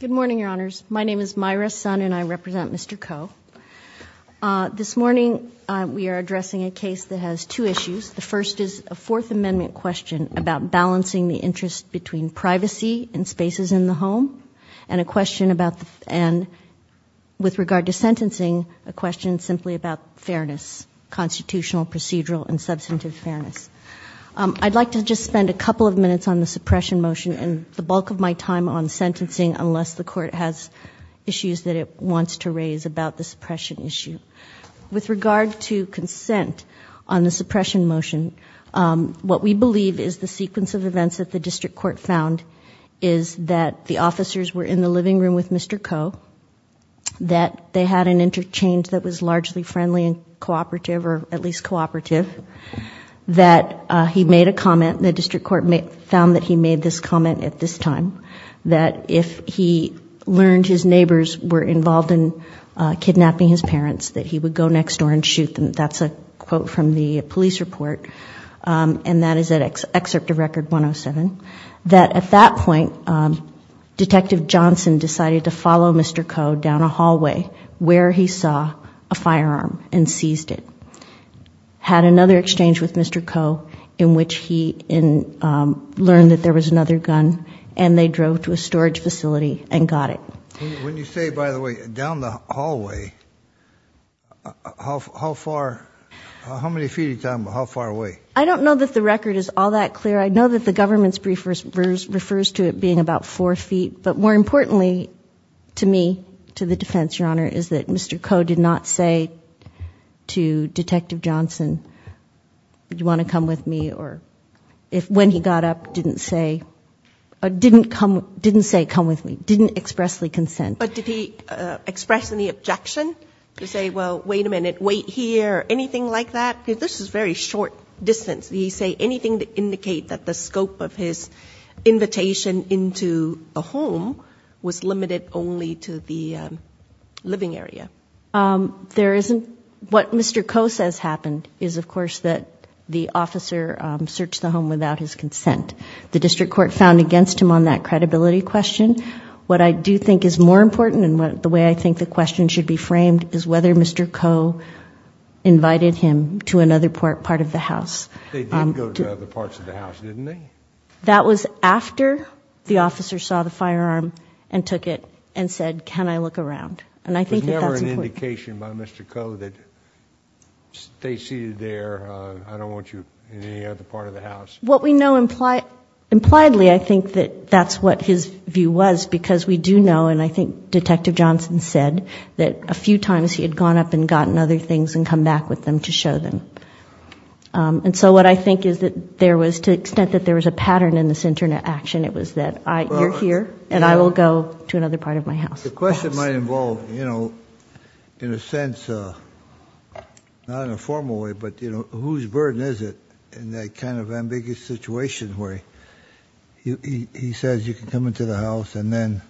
Good morning, Your Honors. My name is Myra Sun and I represent Mr. Koh. This morning we are addressing a case that has two issues. The first is a Fourth Amendment question about balancing the interest between privacy and spaces in the home, and a question about, and with regard to sentencing, a question simply about fairness, constitutional, procedural, and substantive fairness. I'd like to just spend a couple of minutes on the suppression motion and the bulk of my time on sentencing, unless the Court has issues that it wants to raise about the suppression issue. With regard to consent on the suppression motion, what we believe is the sequence of events that the District Court found is that the officers were in the living room with Mr. Koh, that they had an interchange that was largely friendly and cooperative, or at least cooperative, that he made a comment, the District Court found that he made this comment at this time, that if he learned his neighbors were involved in kidnapping his parents, that he would go next door and shoot them. That's a quote from the police report, and that is at Excerpt of Record 107, that at that point, Detective Johnson decided to follow Mr. Koh down a hallway where he saw a firearm and seized it. Had another exchange with Mr. Koh in which he learned that there was another gun, and they drove to a storage facility and got it. When you say, by the way, down the hallway, how far, how many feet are you talking about? How far away? I don't know that the record is all that clear. I know that the government's brief refers to it being about four feet, but more importantly to me, to the defense, Your Honor, is that Mr. Koh did not say to Detective Johnson, do you want to come with me, or if when he got up, didn't say, didn't come, didn't say come with me, didn't expressly consent. But did he express any objection to say, well, wait a minute, wait here, anything like that? This is very short distance. Did he say anything to indicate that the scope of his invitation into a home was limited only to the living area? There isn't. What Mr. Koh says happened is, of course, that the officer searched the home without his consent. The district court found against him on that credibility question. What I do think is more important, and the way I think the question should be framed, is whether Mr. Koh invited him to another part of the house. They did go to other parts of the house, didn't they? That was after the officer saw the firearm and took it and said, can I look around? And I think that's important. There was never an indication by Mr. Koh that they succeeded there. I don't want you in any other part of the house. What we know impliedly, I think that that's what his view was, because we do know, and I think Detective Johnson said, that a few times he had gone up and gotten other things and come back with them to show them. And so what I think is that there was, to the extent that there was a pattern in this internet action, it was that you're here and I will go to another part of my house. The question might involve, you know, in a sense, not in a formal way, but you know, whose burden is it in that kind of ambiguous situation where he says you can come into the house and then,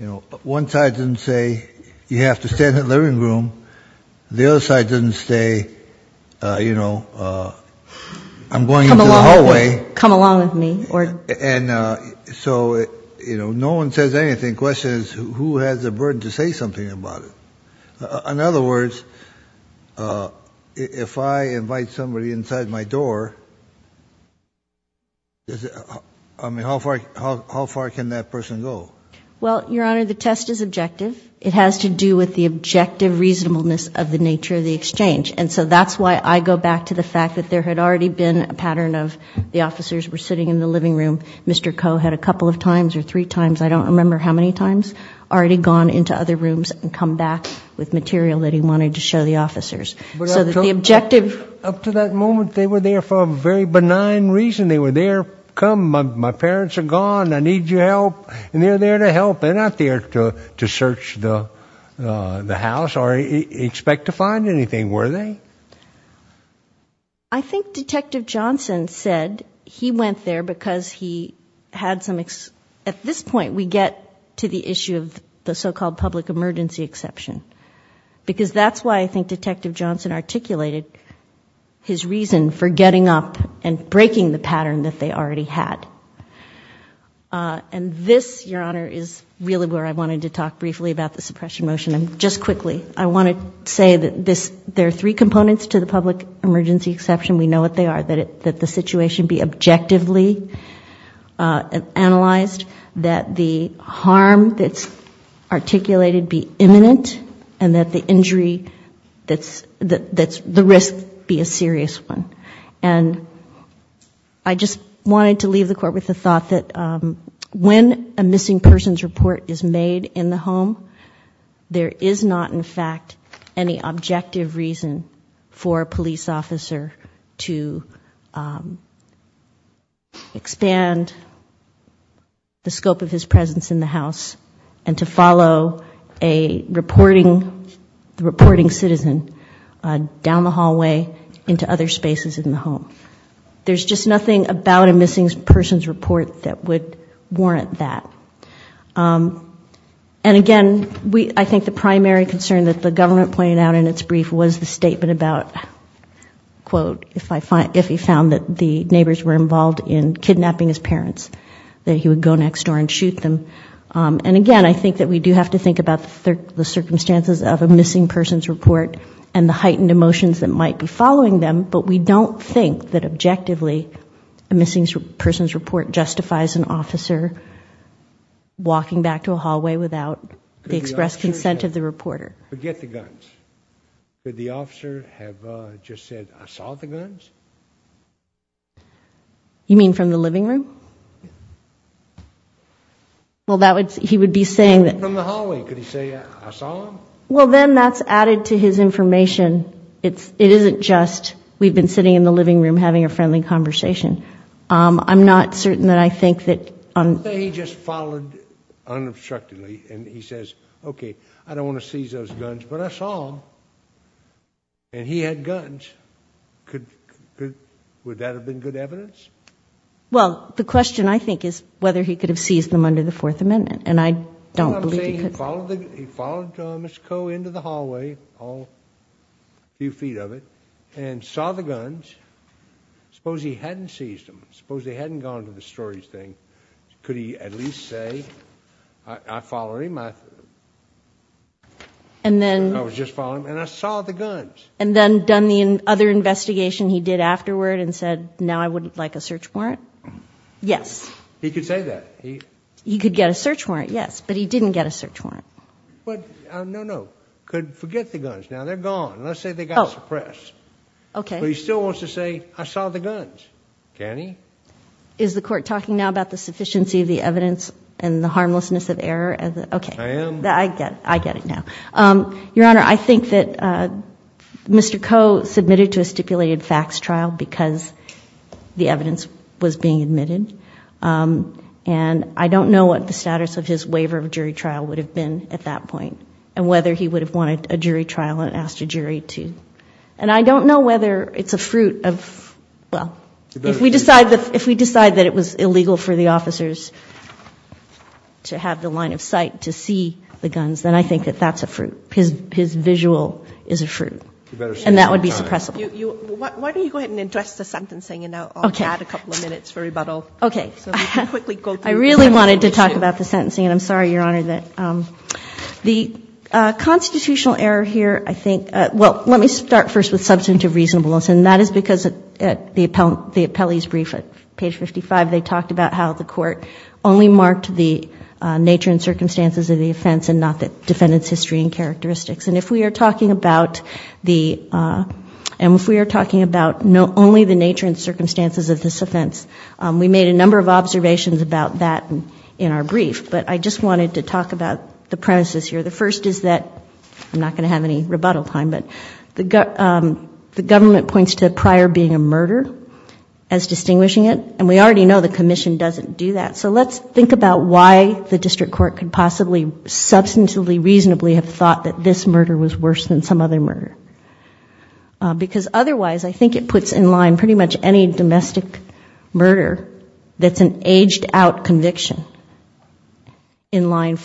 you know, one side didn't say you have to stay in the living room, the other side didn't say, you know, I'm going into the hallway. Come along with me. And so, you know, no one says anything. The question is who has a burden to say something about it. In other words, if I invite somebody inside my door, I mean, how far can that person go? Well, Your Honor, the test is objective. It has to do with the objective reasonableness of the nature of the exchange. And so that's why I go back to the fact that there had already been a pattern of the times or three times, I don't remember how many times, already gone into other rooms and come back with material that he wanted to show the officers. So that the objective... Up to that moment, they were there for a very benign reason. They were there, come, my parents are gone, I need your help, and they're there to help. They're not there to search the house or expect to find anything, were they? I think Detective Johnson said he went there because he had some... At this point, we get to the issue of the so-called public emergency exception. Because that's why I think Detective Johnson articulated his reason for getting up and breaking the pattern that they already had. And this, Your Honor, is really where I wanted to talk briefly about the suppression motion. And just three components to the public emergency exception, we know what they are. That the situation be objectively analyzed, that the harm that's articulated be imminent, and that the injury, that the risk be a serious one. And I just wanted to leave the Court with the thought that when a missing person's report is made in the home, there is not, in fact, any objective reason for a police officer to expand the scope of his presence in the house and to follow a reporting citizen down the hallway into other spaces in the home. There's just nothing about a missing person's report that would be objective. And again, I think the primary concern that the government pointed out in its brief was the statement about, quote, if he found that the neighbors were involved in kidnapping his parents, that he would go next door and shoot them. And again, I think that we do have to think about the circumstances of a missing person's report and the heightened emotions that might be following them. But we don't think that objectively a missing person's officer walking back to a hallway without the expressed consent of the reporter. Forget the guns. Could the officer have just said, I saw the guns? You mean from the living room? Well, that would, he would be saying that. From the hallway, could he say, I saw them? Well, then that's added to his information. It isn't just, we've been sitting in the living room having a friendly conversation. I'm not certain that I think that. He just followed unobstructedly and he says, okay, I don't want to seize those guns, but I saw them. And he had guns. Could, would that have been good evidence? Well, the question I think is whether he could have seized them under the Fourth Amendment. And I don't believe he could. He followed Thomas Coe into the hallway, a few feet of it, and saw the guns. Suppose he hadn't seized them. Suppose he hadn't gone to the storage thing. Could he at least say, I follow him, I was just following him, and I saw the guns. And then done the other investigation he did afterward and said, now I wouldn't like a search warrant? Yes. He could say that. He could get a search warrant, yes, but he didn't get a search warrant. But, no, no, could forget the guns. Now they're gone. Let's say they got suppressed. Okay. But he still wants to say, I saw the guns. Can he? Is the court talking now about the sufficiency of the evidence and the harmlessness of error? Okay. I am. I get it now. Your Honor, I think that Mr. Coe submitted to a stipulated facts trial because the evidence was being admitted. And I don't know what the status of his waiver of jury trial would have been at that point and whether he would have wanted a jury trial and asked a jury to. And I don't know whether it's a fruit of, well, if we decide that it was illegal for the officers to have the line of sight to see the guns, then I think that that's a fruit. His visual is a fruit. And that would be suppressible. Why don't you go ahead and address the sentencing and I'll add a couple of minutes for rebuttal. Okay. I really wanted to talk about the sentencing and I'm sorry, Your Honor, that the constitutional error here, I think, well, let me start first with substantive reasonableness. And that is because at the appellee's brief at page 55, they talked about how the court only marked the nature and circumstances of the offense and not the defendant's history and characteristics. And if we are talking about the, and if we are talking about only the nature and circumstances of this offense, we made a number of observations about that in our brief. But I just wanted to talk about the premises here. The first is that, I'm not going to have any rebuttal time, but the government points to prior being a murder as distinguishing it. And we already know the commission doesn't do that. So let's think about why the district court could possibly substantively reasonably have thought that this murder was worse than some other murder. Because otherwise, I think it puts in line pretty much any domestic murder that's an underlying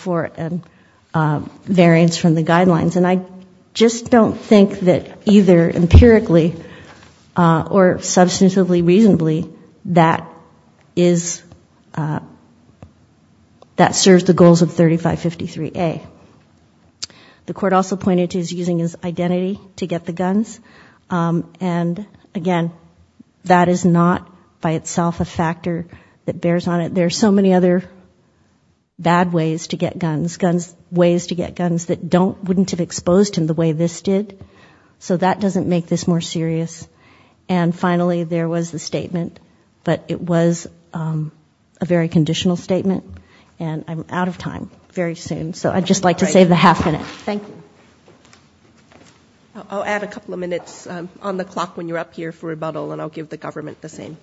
variance from the guidelines. And I just don't think that either empirically or substantively reasonably that is, that serves the goals of 3553A. The court also pointed to his using his identity to get the guns. And again, that is not by itself a factor that bears on it. There are so many other bad ways to get guns, ways to get guns that don't, wouldn't have exposed him the way this did. So that doesn't make this more serious. And finally, there was the statement, but it was a very conditional statement. And I'm out of time very soon. So I'd just like to save the half minute. Thank you. I'll add a couple of minutes on the clock when you're up here for rebuttal and I'll give the government the same.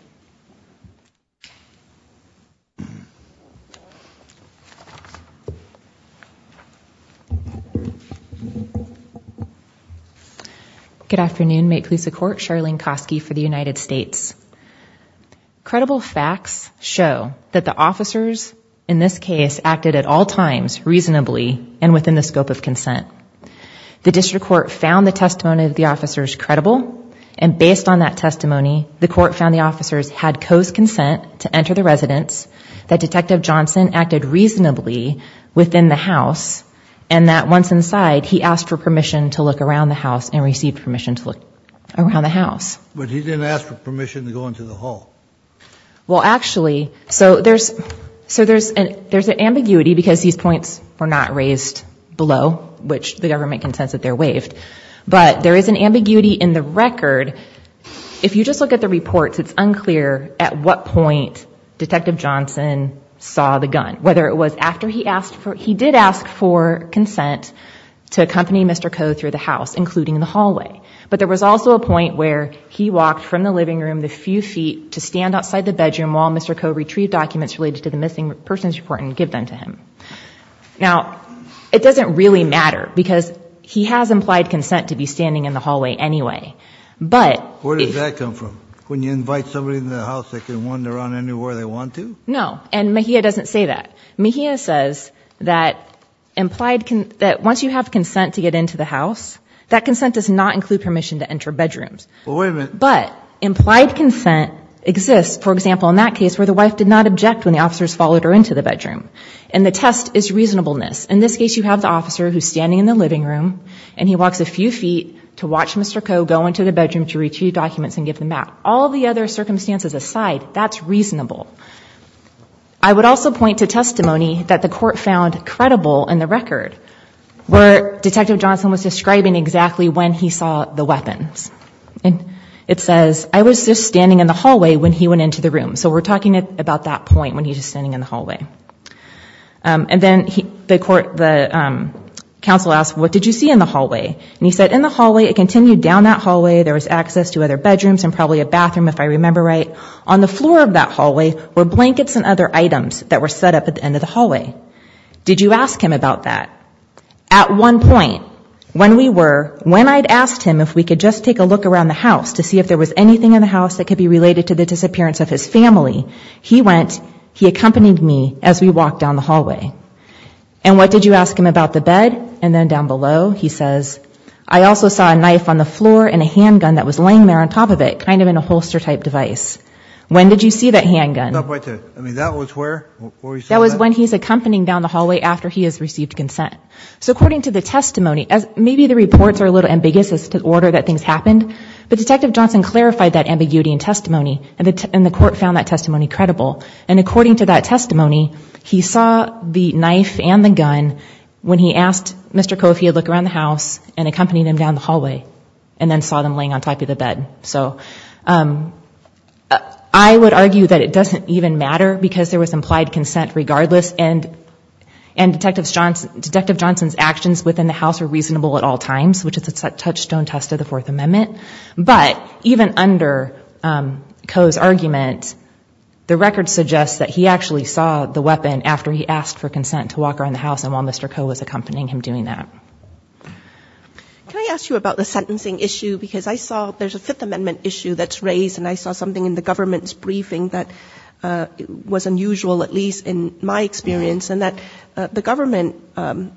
Good afternoon. May it please the court. Charlene Kosky for the United States. Credible facts show that the officers in this case acted at all times reasonably and within the scope of consent. The district court found the testimony of the officers credible and based on that testimony, the court found the officers had co-consent to enter the residence, that Detective Johnson acted reasonably within the house, and that once inside, he asked for permission to look around the house and received permission to look around the house. But he didn't ask for permission to go into the hall. Well actually, so there's an ambiguity because these points were not raised below, which the government can sense that they're waived, but there is an ambiguity in the record. If you just look at the reports, it's unclear at what point Detective Johnson saw the gun, whether it was after he asked for, he did ask for consent to accompany Mr. Coe through the house, including the hallway. But there was also a point where he walked from the living room the few feet to stand outside the bedroom while Mr. Coe retrieved documents related to the missing persons report and give them to him. Now, it doesn't really matter because he has implied consent to be standing in the hallway anyway. But... Where does that come from? When you invite somebody into the house, they can wander around anywhere they want to? No. And Mejia doesn't say that. Mejia says that implied, that once you have consent to get into the house, that consent does not include permission to enter bedrooms. But implied consent exists, for example, in that case where the wife did not object when the test is reasonableness. In this case, you have the officer who's standing in the living room and he walks a few feet to watch Mr. Coe go into the bedroom to retrieve documents and give them back. All the other circumstances aside, that's reasonable. I would also point to testimony that the court found credible in the record where Detective Johnson was describing exactly when he saw the weapons. It says, I was just standing in the hallway when he went into the room. So we're talking about that point when he was just standing in the hallway. And then the counsel asked, what did you see in the hallway? And he said, in the hallway, it continued down that hallway, there was access to other bedrooms and probably a bathroom if I remember right. On the floor of that hallway were blankets and other items that were set up at the end of the hallway. Did you ask him about that? At one point, when we were, when I'd asked him if we could just take a look around the house to see if there was anything in the house that could be related to the disappearance of his family, he went, he accompanied me as we walked down the hallway. And what did you ask him about the bed? And then down below, he says, I also saw a knife on the floor and a handgun that was laying there on top of it, kind of in a holster type device. When did you see that handgun? I mean, that was where? That was when he's accompanying down the hallway after he has received consent. So according to the testimony, maybe the reports are a little ambiguous as to the order that things credible. And according to that testimony, he saw the knife and the gun when he asked Mr. Koh if he would look around the house and accompanied him down the hallway and then saw them laying on top of the bed. So I would argue that it doesn't even matter because there was implied consent regardless and Detective Johnson's actions within the house were reasonable at all times, which is a touchstone test of the Fourth Amendment. But even under Koh's argument, the record suggests that he actually saw the weapon after he asked for consent to walk around the house and while Mr. Koh was accompanying him doing that. Can I ask you about the sentencing issue? Because I saw there's a Fifth Amendment issue that's raised and I saw something in the government's briefing that was unusual, at least in my experience, and that the government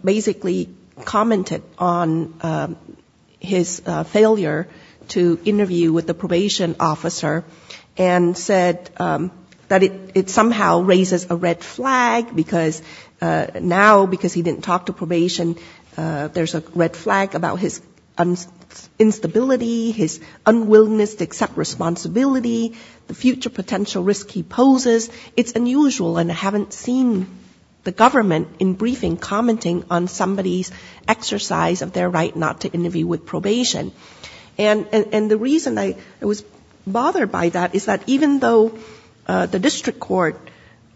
basically commented on his failure to meet the Fifth Amendment, to interview with the probation officer, and said that it somehow raises a red flag because now, because he didn't talk to probation, there's a red flag about his instability, his unwillingness to accept responsibility, the future potential risk he poses. It's unusual and I haven't seen the government in briefing commenting on somebody's exercise of their right not to interview with probation. And the reason I was bothered by that is that even though the district court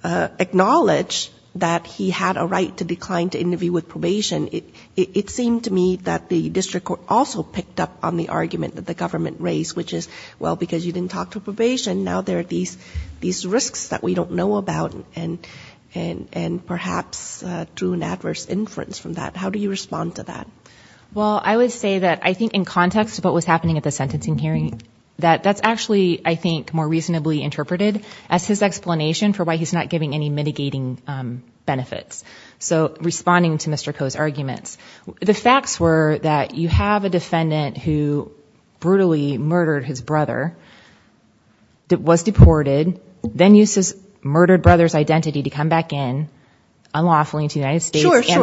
acknowledged that he had a right to decline to interview with probation, it seemed to me that the district court also picked up on the argument that the government raised, which is, well, because you didn't talk to probation, now there are these risks that we don't know about and perhaps drew an adverse inference from that. How do you respond to that? Well, I would say that I think in context of what was happening at the sentencing hearing, that's actually, I think, more reasonably interpreted as his explanation for why he's not giving any mitigating benefits. So, responding to Mr. Koh's arguments, the facts were that you have a defendant who brutally murdered his brother, was deported, then used his murdered brother's identity to come back in, unlawfully, into the United States, right?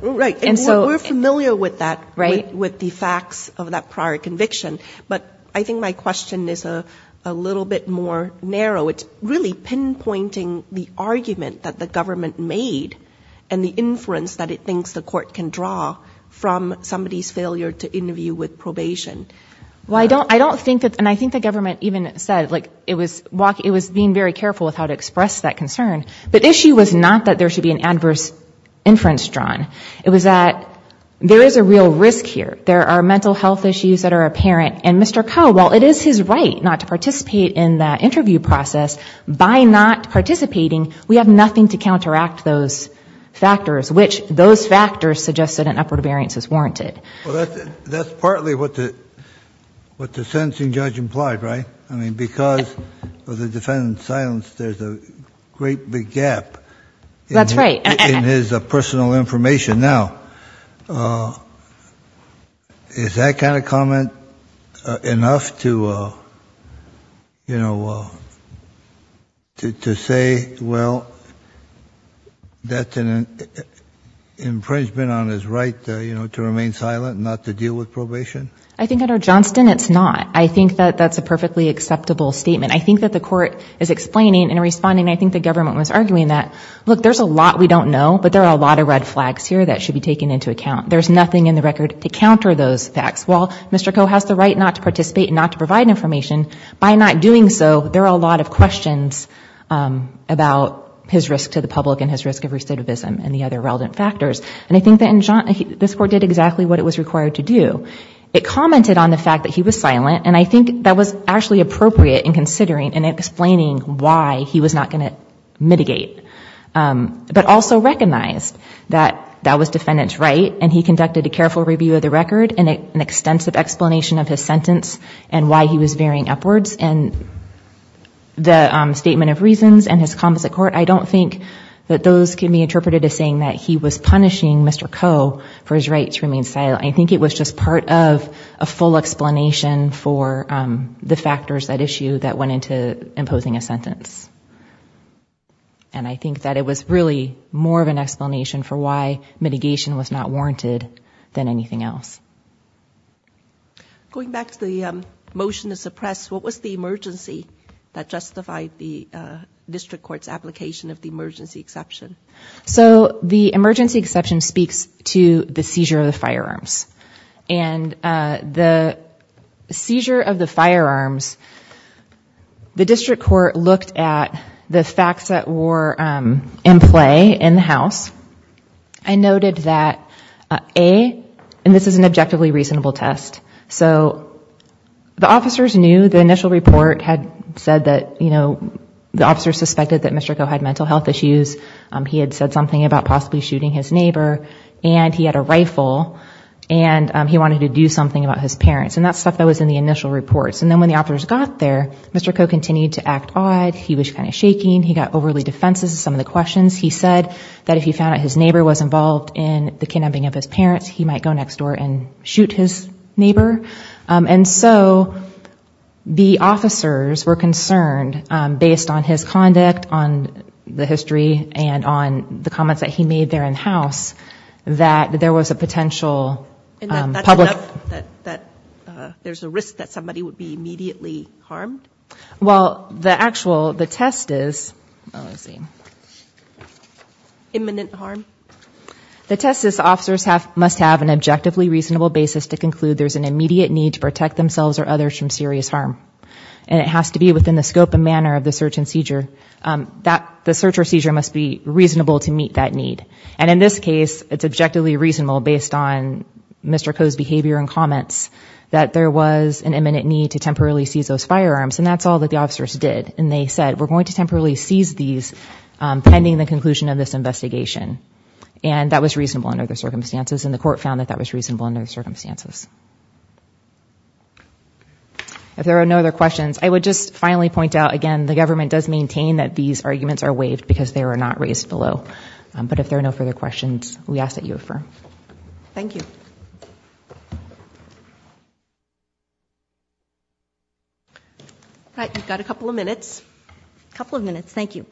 Right. And we're familiar with that, with the facts of that prior conviction. But I think my question is a little bit more narrow. It's really pinpointing the argument that the government made and the inference that it thinks the court can draw from somebody's failure to interview with probation. Well, I don't think that, and I think the government even said, like, it was being very careful with how to express that concern. The issue was not that there should be an inference drawn. It was that there is a real risk here. There are mental health issues that are apparent. And Mr. Koh, while it is his right not to participate in that interview process, by not participating, we have nothing to counteract those factors, which those factors suggested an upward variance is warranted. Well, that's partly what the sentencing judge implied, right? I mean, because of the defendant's silence, there's a great big gap in his... His personal information. Now, is that kind of comment enough to, you know, to say, well, that's an infringement on his right, you know, to remain silent and not to deal with probation? I think under Johnston, it's not. I think that that's a perfectly acceptable statement. I think that the court is explaining and responding. I think the government was arguing that, look, there's a lot we don't know, but there are a lot of red flags here that should be taken into account. There's nothing in the record to counter those facts. While Mr. Koh has the right not to participate and not to provide information, by not doing so, there are a lot of questions about his risk to the public and his risk of recidivism and the other relevant factors. And I think that in Johnston, this court did exactly what it was required to do. It commented on the fact that he was silent, and I think that was actually appropriate in considering and explaining why he was not going to mitigate. But also recognized that that was defendant's right, and he conducted a careful review of the record and an extensive explanation of his sentence and why he was veering upwards. And the statement of reasons and his comments at court, I don't think that those can be interpreted as saying that he was punishing Mr. Koh for his right to remain silent. I think it was just part of a full explanation for the factors at issue that went into imposing a sentence. And I think that it was really more of an explanation for why mitigation was not warranted than anything else. Going back to the motion to suppress, what was the emergency that justified the district court's application of the emergency exception? So the emergency exception speaks to the seizure of the firearms. And the seizure of the firearms, the district court looked at the facts that were in play in the house, and noted that A, and this is an objectively reasonable test, so the officers knew the initial report had said that the officers suspected that Mr. Koh had mental health issues, he had said something about possibly shooting his neighbor, and he had a rifle, and he wanted to do something about his parents. And that's stuff that was in the initial reports. And then when the officers got there, Mr. Koh continued to act odd, he was kind of shaking, he got overly defensive in some of the questions. He said that if he found out his neighbor was involved in the kidnapping of his parents, he might go next door and shoot his neighbor. And so, the officers were concerned, based on his conduct, on the history, and on the comments that he made there in the house, that there was a potential public... And that's enough? That there's a risk that somebody would be immediately harmed? Well, the actual, the test is... Oh, let's see. Imminent harm? The test is that the officers must have an objectively reasonable basis to conclude there's an immediate need to protect themselves or others from serious harm. And it has to be within the scope and manner of the search and seizure. The search or seizure must be reasonable to meet that need. And in this case, it's objectively reasonable, based on Mr. Koh's behavior and comments, that there was an imminent need to temporarily seize those firearms. And that's all that the officers did. And they said, we're going to temporarily seize these pending the conclusion of this investigation. And that was reasonable under the circumstances. And the court found that that was reasonable under the circumstances. If there are no other questions, I would just finally point out, again, the government does maintain that these arguments are waived, because they were not raised below. But if there are no further questions, we ask that you refer. Thank you. All right. We've got a couple of minutes. A couple of minutes. Thank you.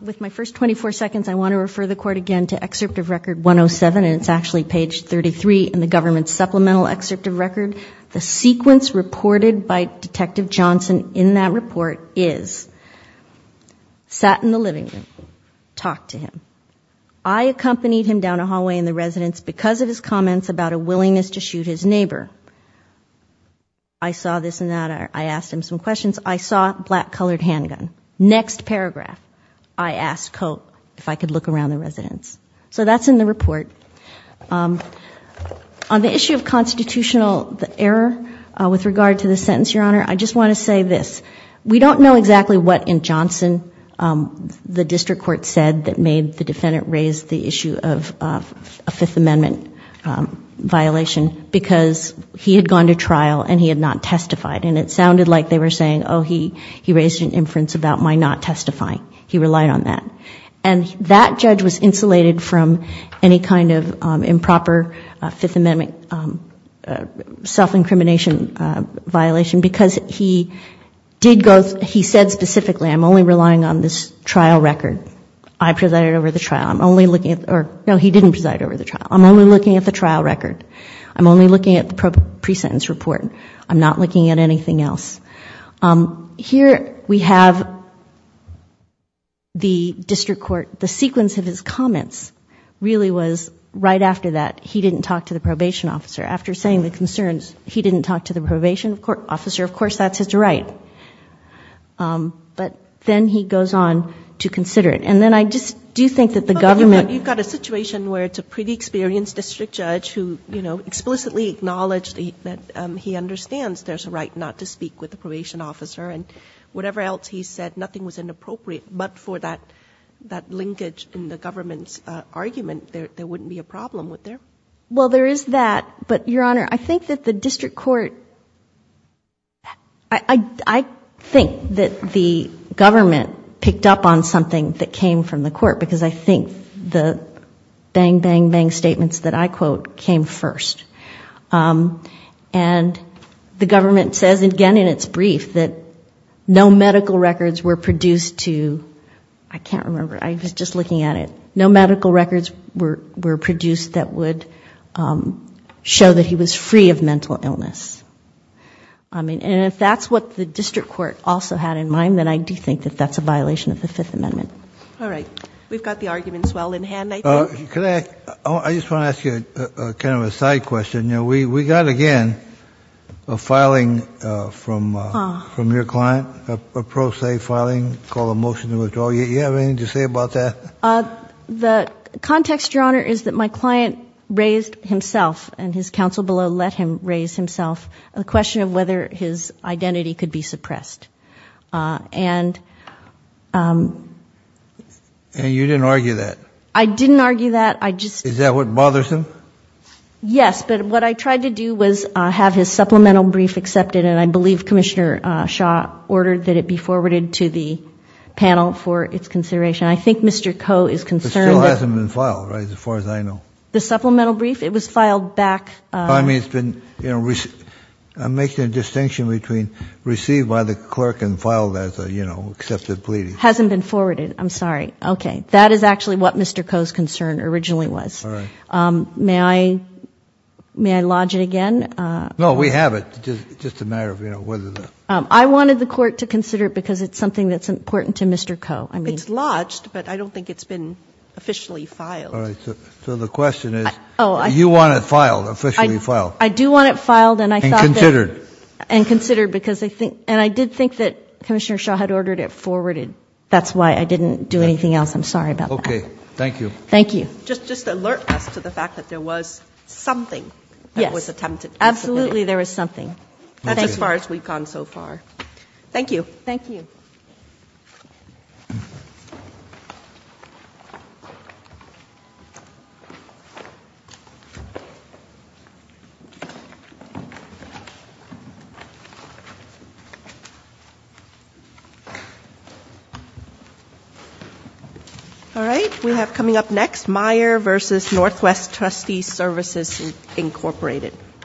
With my first 24 seconds, I want to refer the court again to Excerpt of Record 107. And it's actually page 33 in the government's supplemental excerpt of record. The sequence reported by Detective Johnson in that report is, sat in the living room, talked to him. I accompanied him down a hallway in the residence because of his comments about a willingness to shoot his neighbor. I saw this and that. I asked him some questions. I saw black colored handgun. Next paragraph, I asked Cope if I could look around the residence. So that's in the report. On the issue of constitutional error with regard to the sentence, Your Honor, I just want to say this. We don't know exactly what in Johnson the district court said that made the defendant raise the issue of a Fifth Amendment violation, because he had gone to trial and he had not testified. And it sounded like they were saying, oh, he raised an inference about my not testifying. He relied on that. And that judge was insulated from any kind of improper Fifth Amendment self-incrimination violation because he did go, he said specifically, I'm only relying on this trial record. I presided over the trial. I'm only looking at, or no, he didn't preside over the trial. I'm only looking at the trial record. I'm only looking at the pre-sentence report. I'm not looking at anything else. Here we have the district court. The sequence of his comments really was right after that, he didn't talk to the probation officer. After saying the concerns, he didn't talk to the probation officer. Of course, that's his right. But then he goes on to consider it. And then I just do think that the government... He acknowledged that he understands there's a right not to speak with the probation officer. And whatever else he said, nothing was inappropriate. But for that linkage in the government's argument, there wouldn't be a problem, would there? Well, there is that. But, Your Honor, I think that the district court... I think that the government picked up on something that came from the court, because I think the bang, and the government says, again, in its brief, that no medical records were produced to... I can't remember. I was just looking at it. No medical records were produced that would show that he was free of mental illness. And if that's what the district court also had in mind, then I do think that that's a violation of the Fifth Amendment. All right. We've got the arguments well in hand, I think. I just want to ask you kind of a side question. We got, again, a filing from your client, a pro se filing called a motion to withdraw. Do you have anything to say about that? The context, Your Honor, is that my client raised himself, and his counsel below let him raise himself, the question of whether his identity could be suppressed. And you didn't argue that? I didn't argue that. I just... Is that what bothers him? Yes, but what I tried to do was have his supplemental brief accepted, and I believe Commissioner Shaw ordered that it be forwarded to the panel for its consideration. I think Mr. Koh is concerned that... It still hasn't been filed, right, as far as I know? The supplemental brief? It was filed back... I mean, it's been... I'm making a distinction between received by the clerk and filed as a, you know, accepted plea. Hasn't been forwarded. I'm sorry. Okay. That is actually what Mr. Koh's concern originally was. May I lodge it again? No, we have it. Just a matter of, you know, whether the... I wanted the court to consider it because it's something that's important to Mr. Koh. It's lodged, but I don't think it's been officially filed. All right. So the question is, you want it filed, officially filed? I do want it filed, and I thought that... And considered. And considered because I think... And I did think that Commissioner Shaw had ordered it forwarded. That's why I didn't do anything else. I'm sorry about that. Okay. Thank you. Thank you. Just to alert us to the fact that there was something that was attempted. Yes. Absolutely, there was something. That's as far as we've gone so far. Thank you. Thank you. All right. We have coming up next, Meyer versus Northwest Trustee Services Incorporated.